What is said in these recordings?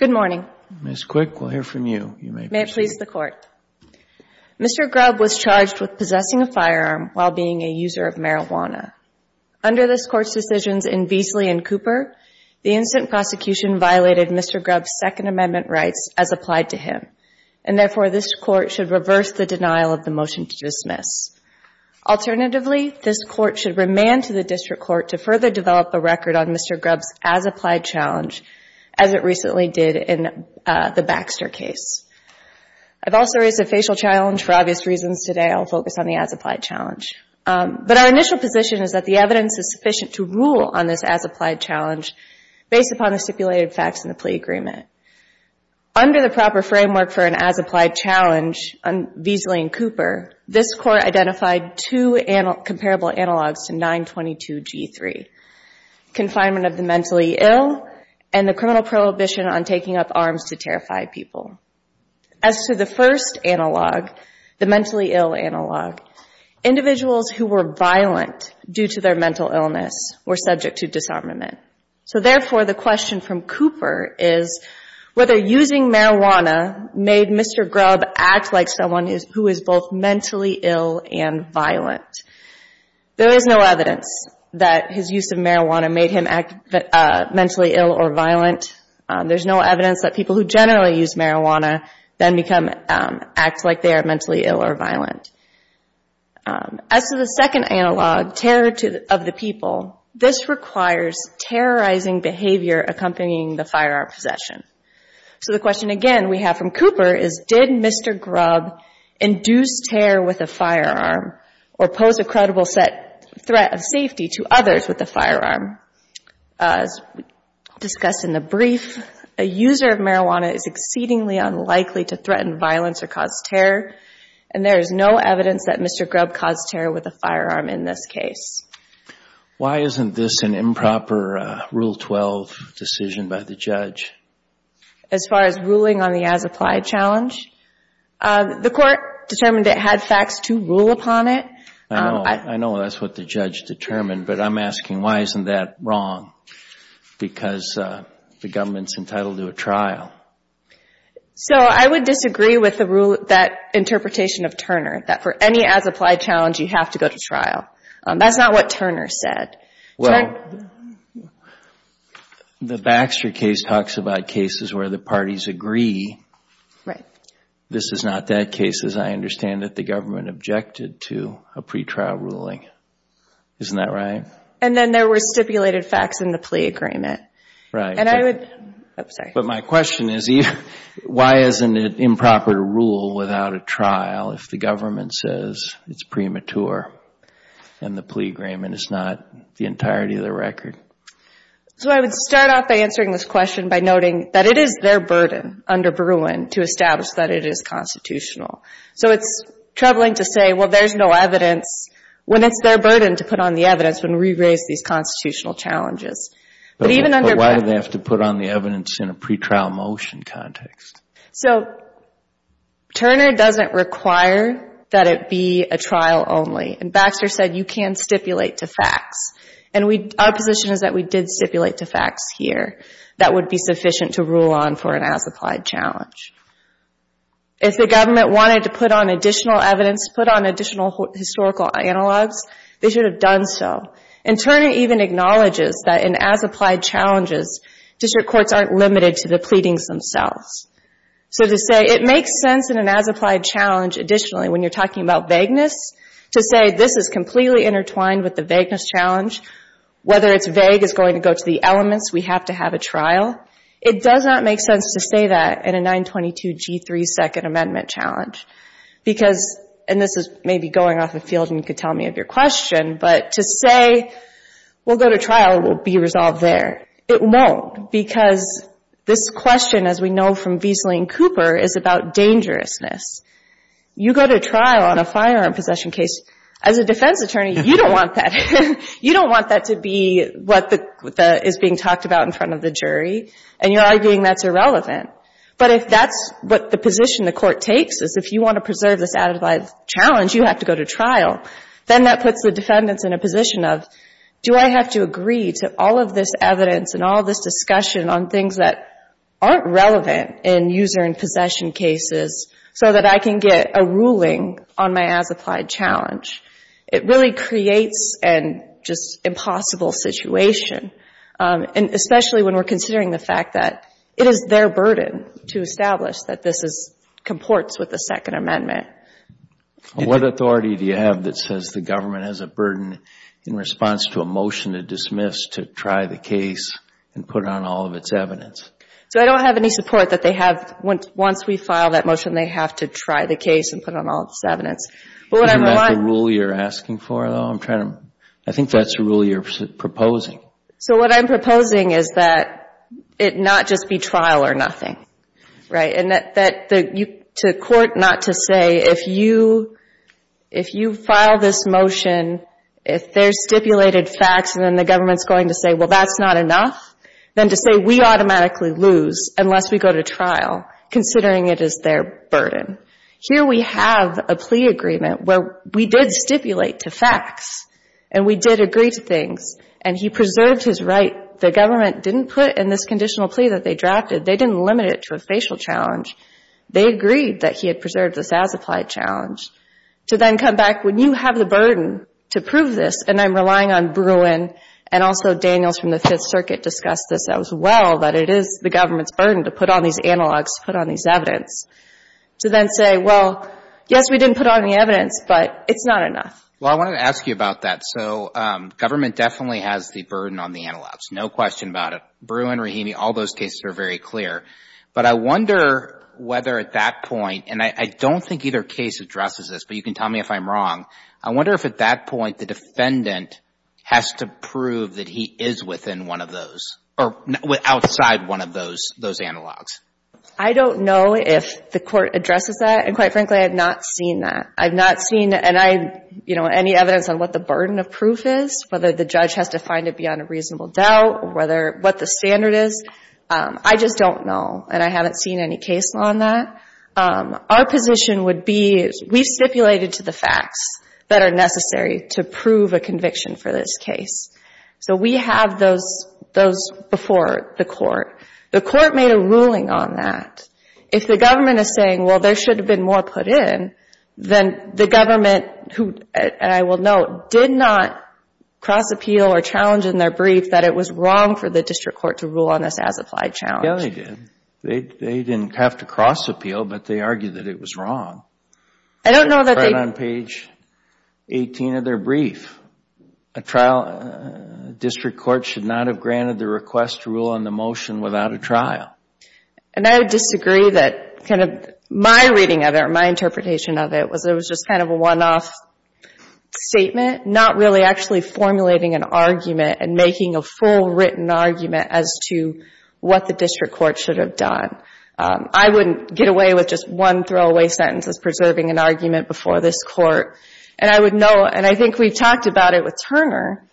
Mr. Grubb was charged with possessing a firearm while being a user of marijuana. Under this Court's decisions in Beasley v. Cooper, the incident prosecution violated Mr. Grubb's Second Amendment rights as applied to him, and therefore this Court should reverse the denial of the motion to dismiss. Alternatively, this Court should remand to the District Court to further develop a record on Mr. Grubb's as-applied challenge as it recently did in the Baxter case. I've also raised a facial challenge for obvious reasons today. I'll focus on the as-applied challenge. But our initial position is that the evidence is sufficient to rule on this as-applied challenge based upon the stipulated facts in the plea agreement. Under the proper framework for an as-applied challenge on Beasley v. Cooper, this Court identified two comparable analogs to 922G3, confinement of the mentally ill and the criminal prohibition on taking up arms to terrify people. As to the first analog, the mentally ill analog, individuals who were violent due to their mental illness were subject to disarmament. So therefore, the question from Cooper is whether using marijuana made Mr. Grubb act like someone who is both mentally ill and violent. There is no evidence that his use of marijuana made him act mentally ill or violent. There's no evidence that people who generally use marijuana then become, act like they are mentally ill or violent. As to the second analog, terror of the people, this requires terrorizing behavior accompanying the firearm possession. So the question again we have from Cooper is, did Mr. Grubb induce terror with a firearm or pose a credible threat of safety to others with a firearm? As discussed in the brief, a user of marijuana is exceedingly unlikely to threaten violence or cause terror, and there is no evidence that Mr. Grubb caused terror with a firearm in this case. Why isn't this an improper Rule 12 decision by the judge? As far as ruling on the as-applied challenge? The court determined it had facts to rule upon it. I know. I know that's what the judge determined, but I'm asking why isn't that wrong? Because the government's entitled to a trial. So I would disagree with the rule, that interpretation of Turner, that for any as-applied challenge, you have to go to trial. That's not what Turner said. Well, the Baxter case talks about cases where the parties agree. This is not that case, as I understand that the government objected to a pretrial ruling. Isn't that right? And then there were stipulated facts in the plea agreement. And I would, oops, sorry. But my question is, why isn't it improper to rule without a trial if the government says it's premature and the plea agreement is not the entirety of the record? So I would start off by answering this question by noting that it is their burden under Bruin to establish that it is constitutional. So it's troubling to say, well, there's no evidence, when it's their burden to put on the evidence when we raise these constitutional challenges. But why do they have to put on the evidence in a pretrial motion context? So Turner doesn't require that it be a trial only. And Baxter said you can stipulate to facts. And our position is that we did stipulate to facts here that would be sufficient to rule on for an as-applied challenge. If the government wanted to put on additional evidence, put on additional historical analogs, they should have done so. And Turner even acknowledges that in as-applied challenges, district courts aren't limited to the pleadings themselves. So to say it makes sense in an as-applied challenge, additionally, when you're talking about vagueness, to say this is completely intertwined with the vagueness challenge, whether it's vague is going to go to the elements, we have to have a trial. It does not make sense to say that in a 922G3 Second Amendment challenge. Because, and this is maybe going off the field and you could tell me of your question, but to say, we'll go to trial, we'll be resolved there. It won't. Because this question, as we know from Viesling Cooper, is about dangerousness. You go to trial on a firearm possession case, as a defense attorney, you don't want that. You don't want that to be what is being talked about in front of the jury. And you're arguing that's irrelevant. But if that's what the position the court takes, is if you want to preserve this as-applied challenge, you have to go to trial. Then that puts the defendants in a position of, do I have to agree to all of this evidence and all of this discussion on things that aren't relevant in user and possession cases, so that I can get a ruling on my as-applied challenge? It really creates an impossible situation, especially when we're considering the fact that it is their burden to establish that this comports with the Second Amendment. What authority do you have that says the government has a burden in response to a motion to dismiss to try the case and put on all of its evidence? So I don't have any support that they have, once we file that motion, they have to try the case and put on all this evidence. Isn't that the rule you're asking for, though? I think that's the rule you're proposing. So what I'm proposing is that it not just be trial or nothing. Right, and that to court not to say, if you file this motion, if there's stipulated facts, and then the government's going to say, well, that's not enough, then to say we automatically lose unless we go to trial, considering it is their burden. Here we have a plea agreement where we did stipulate to facts, and we did agree to things, and he preserved his right. The government didn't put in this conditional plea that they drafted, they didn't limit it to a facial challenge. They agreed that he had preserved this as-applied challenge. To then come back, when you have the burden to prove this, and I'm relying on Bruin, and also Daniels from the Fifth Circuit discussed this as well, that it is the government's burden to put on these analogs, to put on these evidence, to then say, well, yes, we didn't put on the evidence, but it's not enough. Well, I wanted to ask you about that. So government definitely has the burden on the analogs. No question about it. Bruin, Rahimi, all those cases are very clear. But I wonder whether at that point, and I don't think either case addresses this, but you can tell me if I'm wrong. I wonder if at that point the defendant has to prove that he is within one of those, or outside one of those analogs. I don't know if the Court addresses that, and quite frankly, I have not seen that. I've not seen, and I, you know, any evidence on what the burden of proof is, whether the judge has to find it beyond a reasonable doubt, or what the standard is. I just don't know, and I haven't seen any case on that. Our position would be, we've stipulated to the facts that are necessary to prove a conviction for this case. So we have those before the Court. The Court made a ruling on that. If the government is saying, well, there should have been more put in, then the government, who, and I will note, did not cross-appeal or challenge in their brief that it was wrong for the district court to rule on this as-applied challenge. Yeah, they did. They didn't have to cross-appeal, but they argued that it was wrong. I don't know that they... Right on page 18 of their brief. A trial district court should not have granted the request to rule on the motion without a trial. And I would disagree that kind of my reading of it, or my interpretation of it, was it was just kind of a one-off statement, not really actually formulating an argument and making a full written argument as to what the district court should have done. I wouldn't get away with just one throwaway sentence as preserving an argument before this Court. And I would note, and I think we've talked about it with Turner,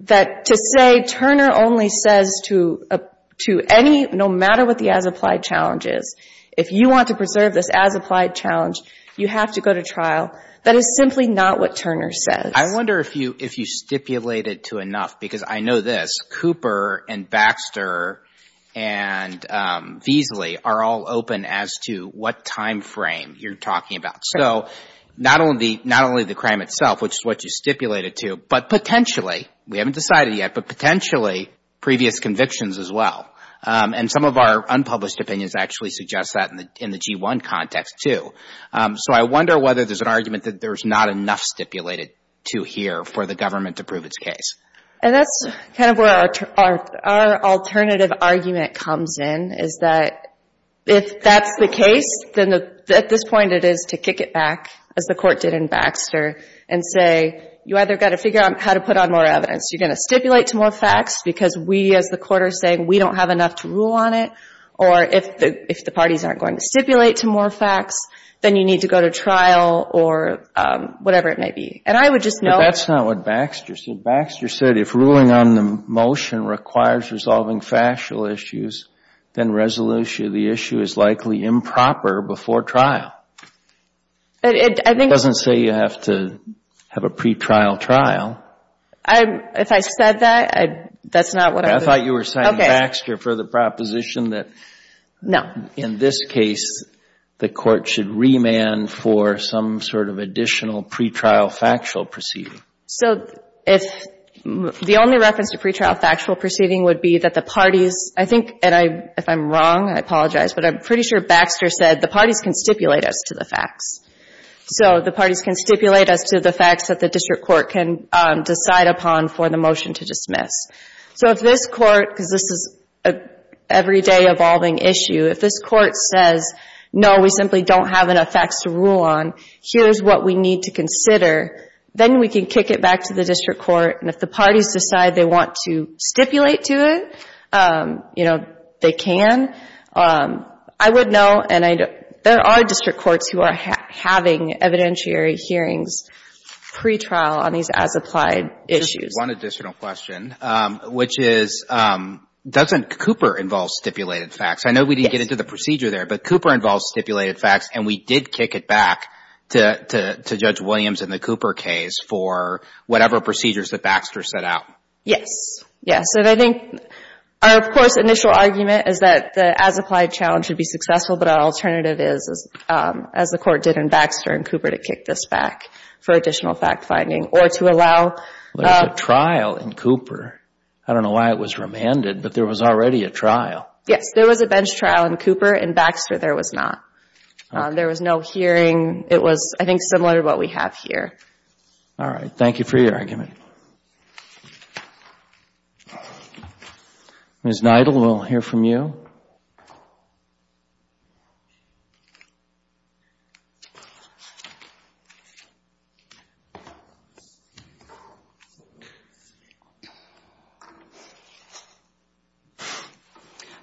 that to say Turner only says to any, no matter what the as-applied challenge is, if you want to preserve this as-applied challenge, you have to go to trial, that is simply not what Turner says. I wonder if you stipulated to enough, because I know this, Cooper and Baxter and Beasley are all open as to what time frame you're talking about. So not only the crime itself, which is what you stipulated to, but potentially, we haven't decided yet, but potentially previous convictions as well. And some of our unpublished opinions actually suggest that in the G-1 context, too. So I wonder whether there's an argument that there's not enough stipulated to here for the government to prove its case. And that's kind of where our alternative argument comes in, is that if that's the case, then at this point it is to kick it back, as the Court did in Baxter, and say, you either got to figure out how to put on more evidence. You're going to stipulate to more facts, because we, as the Court, are saying we don't have enough to rule on it. Or if the parties aren't going to stipulate to more facts, then you need to go to trial, or whatever it may be. And I would just note- But that's not what Baxter said. Baxter said, if ruling on the motion requires resolving factual issues, then resolution of the issue is likely improper before trial. It doesn't say you have to have a pretrial trial. If I said that, that's not what I would- I thought you were citing Baxter for the proposition that- No. In this case, the Court should remand for some sort of additional pretrial factual proceeding. So if the only reference to pretrial factual proceeding would be that the parties, I think, and if I'm wrong, I apologize, but I'm pretty sure Baxter said the parties can stipulate as to the facts. So the parties can stipulate as to the facts that the district court can decide upon for the motion to dismiss. So if this Court, because this is an everyday evolving issue, if this Court says, no, we simply don't have enough facts to rule on, here's what we need to consider, then we can kick it back to the district court. And if the parties decide they want to stipulate to it, you know, they can. I would know, and there are district courts who are having evidentiary hearings pretrial on these as-applied issues. Just one additional question, which is, doesn't Cooper involve stipulated facts? I know we didn't get into the procedure there, but Cooper involves stipulated facts, and we did kick it back to Judge Williams in the Cooper case for whatever procedures that Baxter set out. Yes, and I think our, of course, initial argument is that the as-applied challenge should be successful, but our alternative is, as the Court did in Baxter and Cooper, to kick this back for additional fact-finding or to allow. But at the trial in Cooper, I don't know why it was remanded, but there was already a trial. Yes, there was a bench trial in Cooper. In Baxter, there was not. There was no hearing. It was, I think, similar to what we have here. All right. Thank you for your argument. Ms. Nidal, we'll hear from you.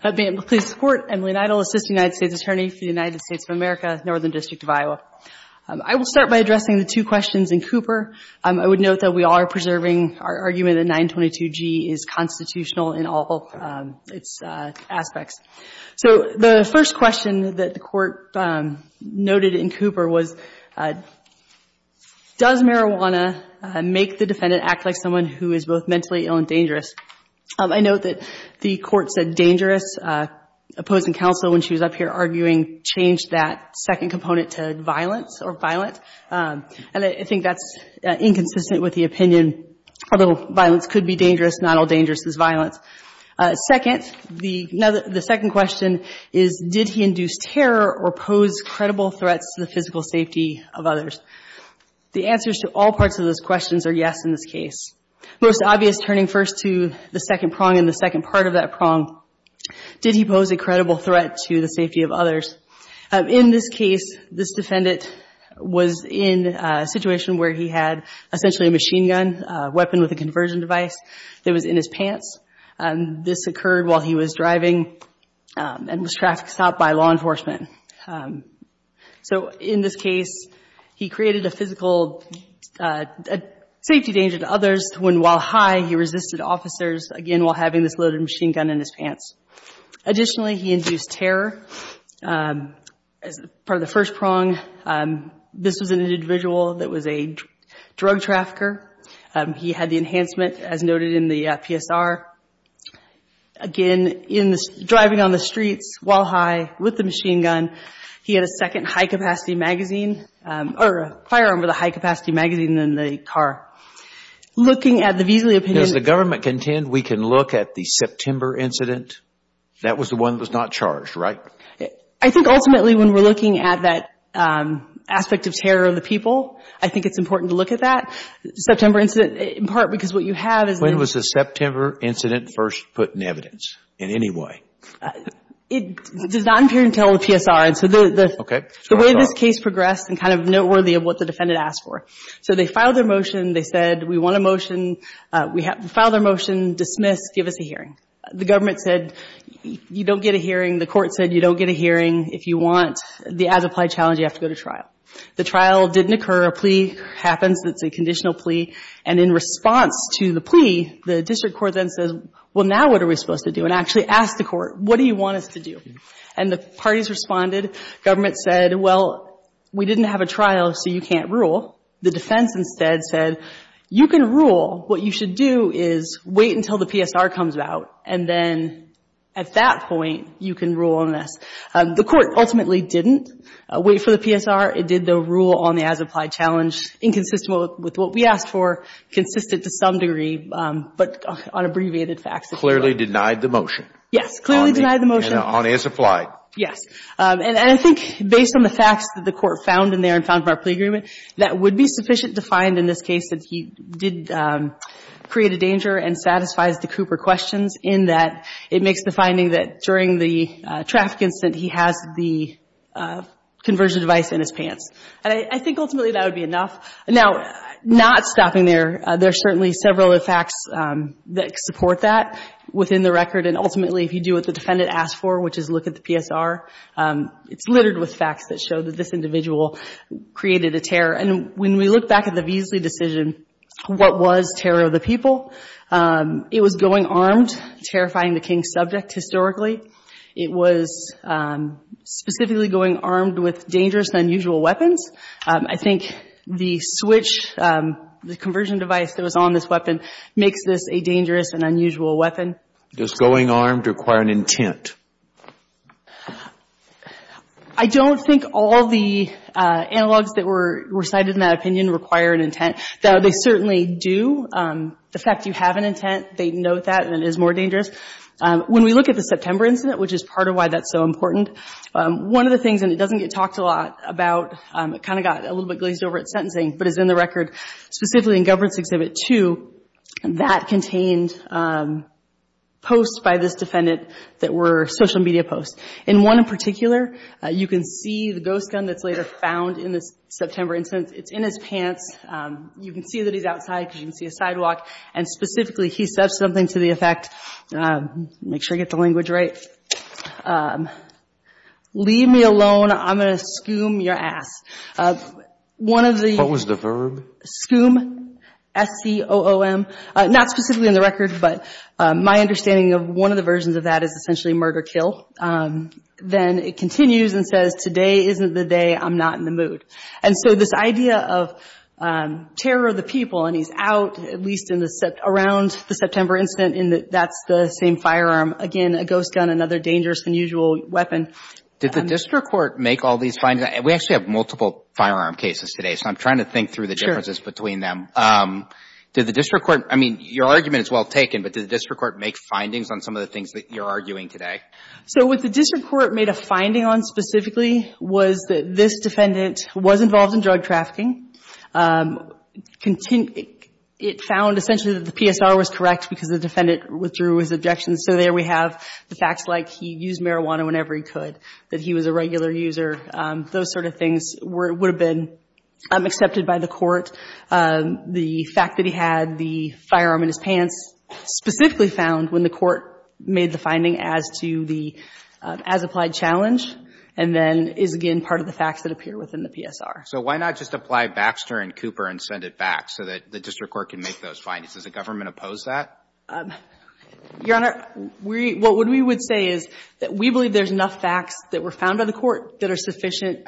Ma'am, please support Emily Nidal, Assistant United States Attorney for the United States of America, Northern District of Iowa. I will start by addressing the two questions in Cooper. I would note that we are preserving our argument that 922G is constitutional in all its aspects. So the first question that the Court noted in Cooper was, does marijuana make the defendant act like someone who is both mentally ill and dangerous? I note that the Court said dangerous, opposing counsel, when she was up here arguing, changed that second component to violence or violent. And I think that's inconsistent with the opinion, although violence could be dangerous, not all dangerous is violence. Second, the second question is, did he induce terror or pose credible threats to the physical safety of others? The answers to all parts of those questions are yes in this case. Most obvious turning first to the second prong and the second part of that prong, did he pose a credible threat to the safety of others? In this case, this defendant was in a situation where he had essentially a machine gun, a weapon with a conversion device that was in his pants. And this occurred while he was driving and was trafficked south by law enforcement. So in this case, he created a physical safety danger to others when while high, he resisted officers, again, while having this loaded machine gun in his pants. Additionally, he induced terror as part of the first prong. This was an individual that was a drug trafficker. He had the enhancement as noted in the PSR. Again, driving on the streets while high with the machine gun, he had a second high-capacity magazine, or a firearm with a high-capacity magazine in the car. Looking at the Veazley opinion... Does the government contend we can look at the September incident? That was the one that was not charged, right? I think ultimately when we're looking at that aspect of terror of the people, I think it's important to look at that. September incident, in part, because what you have is... When was the September incident first put in evidence in any way? It does not appear until the PSR. And so the way this case progressed and kind of noteworthy of what the defendant asked for. So they filed their motion. They said, we want a motion. We have to file their motion, dismiss, give us a hearing. The government said, you don't get a hearing. The court said, you don't get a hearing. If you want the as-applied challenge, you have to go to trial. The trial didn't occur. A plea happens. It's a conditional plea. And in response to the plea, the district court then says, well, now what are we supposed to do? And actually asked the court, what do you want us to do? And the parties responded. Government said, well, we didn't have a trial, so you can't rule. The defense instead said, you can rule. What you should do is wait until the PSR comes out, and then at that point, you can rule on this. The court ultimately didn't wait for the PSR. It did the rule on the as-applied challenge, inconsistent with what we asked for, consistent to some degree, but on abbreviated facts. It clearly denied the motion. Yes, clearly denied the motion. And on as-applied. Yes. And I think based on the facts that the court found in there and found from our plea agreement, that would be sufficient to find in this case that he did create a danger and satisfies the Cooper questions in that it makes the finding that during the traffic incident, he has the conversion device in his pants. And I think ultimately that would be enough. Now, not stopping there, there are certainly several facts that support that within the record. And ultimately, if you do what the defendant asked for, which is look at the PSR, it's littered with facts that show that this individual created a terror. And when we look back at the Veasley decision, what was terror of the people, it was going armed, terrifying the King's subject historically. It was specifically going armed with dangerous and unusual weapons. I think the switch, the conversion device that was on this weapon makes this a dangerous and unusual weapon. Does going armed require an intent? I don't think all the analogs that were recited in that opinion require an intent. Though they certainly do. The fact you have an intent, they note that, and it is more dangerous. When we look at the September incident, which is part of why that's so important, one of the things, and it doesn't get talked a lot about, it kind of got a little bit glazed over at sentencing, but it's in the record, specifically in Governance Exhibit 2, that contained posts by this defendant that were social media posts. In one in particular, you can see the ghost gun that's later found in this September incident. It's in his pants. You can see that he's outside because you can see a sidewalk. And specifically, he said something to the effect, make sure I get the language right, leave me alone, I'm going to skoom your ass. One of the- What was the verb? Skoom, S-C-O-O-M, not specifically in the record, but my understanding of one of the versions of that is essentially murder-kill. Then it continues and says, today isn't the day, I'm not in the mood. And so this idea of terror of the people, and he's out, at least around the September incident, and that's the same firearm. Again, a ghost gun, another dangerous than usual weapon. Did the district court make all these findings? We actually have multiple firearm cases today. So I'm trying to think through the differences between them. Did the district court, I mean, your argument is well taken, but did the district court make findings on some of the things that you're arguing today? So what the district court made a finding on specifically was that this defendant was involved in drug trafficking. It found essentially that the PSR was correct because the defendant withdrew his objections. So there we have the facts like he used marijuana whenever he could, that he was a regular user. Those sort of things would have been accepted by the court. The fact that he had the firearm in his pants specifically found when the court made the finding as to the as-applied challenge, and then is, again, part of the facts that appear within the PSR. So why not just apply Baxter and Cooper and send it back so that the district court can make those findings? Does the government oppose that? Your Honor, what we would say is that we believe there's enough facts that were found by the court that are sufficient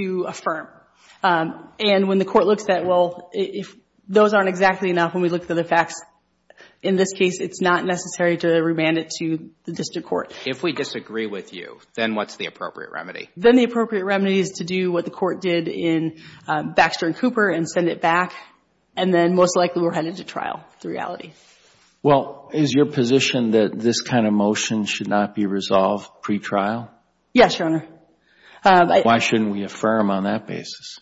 to affirm. And when the court looks at, well, if those aren't exactly enough, when we look at the facts, in this case, it's not necessary to remand it to the district court. If we disagree with you, then what's the appropriate remedy? Then the appropriate remedy is to do what the court did in Baxter and Cooper and send it back. And then most likely we're headed to trial, the reality. Well, is your position that this kind of motion should not be resolved pre-trial? Yes, Your Honor. Why shouldn't we affirm on that basis?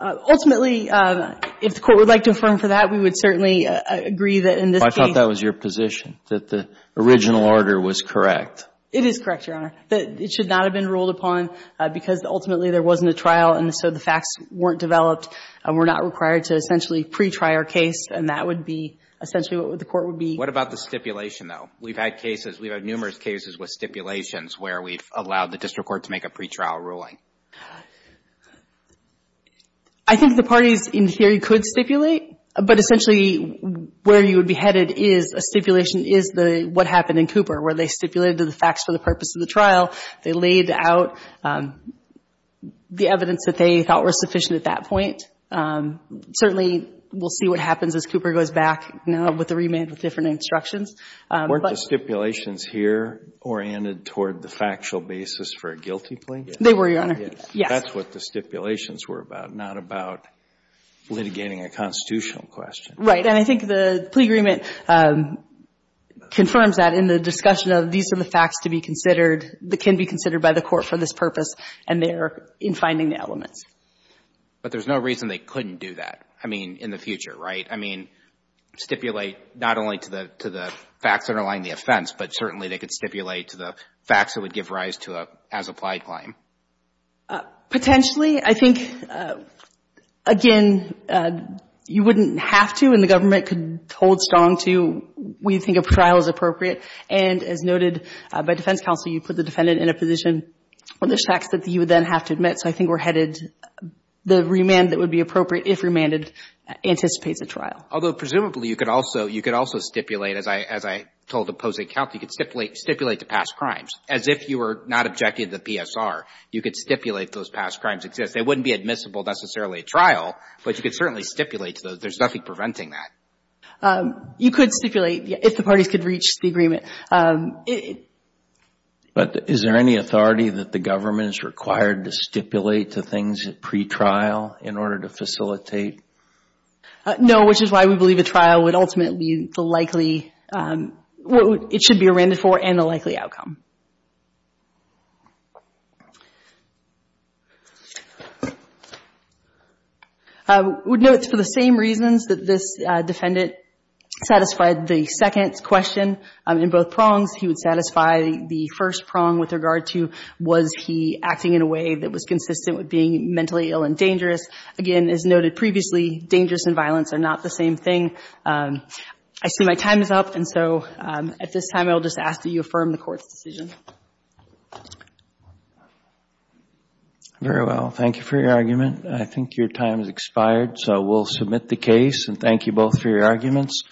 Ultimately, if the court would like to affirm for that, we would certainly agree that in this case. Well, I thought that was your position, that the original order was correct. It is correct, Your Honor. That it should not have been ruled upon because ultimately there wasn't a trial and so the facts weren't developed. And we're not required to essentially pre-try our case. And that would be essentially what the court would be. What about the stipulation, though? We've had cases, we've had numerous cases with stipulations where we've allowed the district court to make a pre-trial ruling. I think the parties in here could stipulate. But essentially where you would be headed is a stipulation is what happened in Cooper, where they stipulated the facts for the purpose of the trial. They laid out the evidence that they thought were sufficient at that point. Certainly, we'll see what happens as Cooper goes back with the remand with different instructions. Weren't the stipulations here oriented toward the factual basis for a guilty plea? They were, Your Honor. Yes. That's what the stipulations were about, not about litigating a constitutional question. Right. And I think the plea agreement confirms that in the discussion of these are the facts to be considered, that can be considered by the court for this purpose, and they're in finding the elements. But there's no reason they couldn't do that, I mean, in the future, right? I mean, stipulate not only to the facts underlying the offense, but certainly they could stipulate to the facts that would give rise to a as-applied claim. Potentially. I think, again, you wouldn't have to, and the government could hold strong to, we think a trial is appropriate. And as noted by defense counsel, you put the defendant in a position where there's facts that you would then have to admit. So I think we're headed, the remand that would be appropriate if remanded anticipates a trial. Although presumably you could also stipulate, as I told the opposing counsel, you could stipulate to past crimes, as if you were not objecting to the PSR. You could stipulate those past crimes exist. They wouldn't be admissible necessarily at trial, but you could certainly stipulate to those. There's nothing preventing that. You could stipulate if the parties could reach the agreement. But is there any authority that the government is required to stipulate to things at pretrial in order to facilitate? No, which is why we believe a trial would ultimately be the likely, it should be remanded for and a likely outcome. I would note for the same reasons that this defendant satisfied the second question in both prongs. He would satisfy the first prong with regard to, was he acting in a way that was consistent with being mentally ill and dangerous? Again, as noted previously, dangerous and violence are not the same thing. I see my time is up. And so at this time, I'll just ask that you affirm the court's decision. Very well. Thank you for your argument. I think your time has expired. So we'll submit the case. And thank you both for your arguments.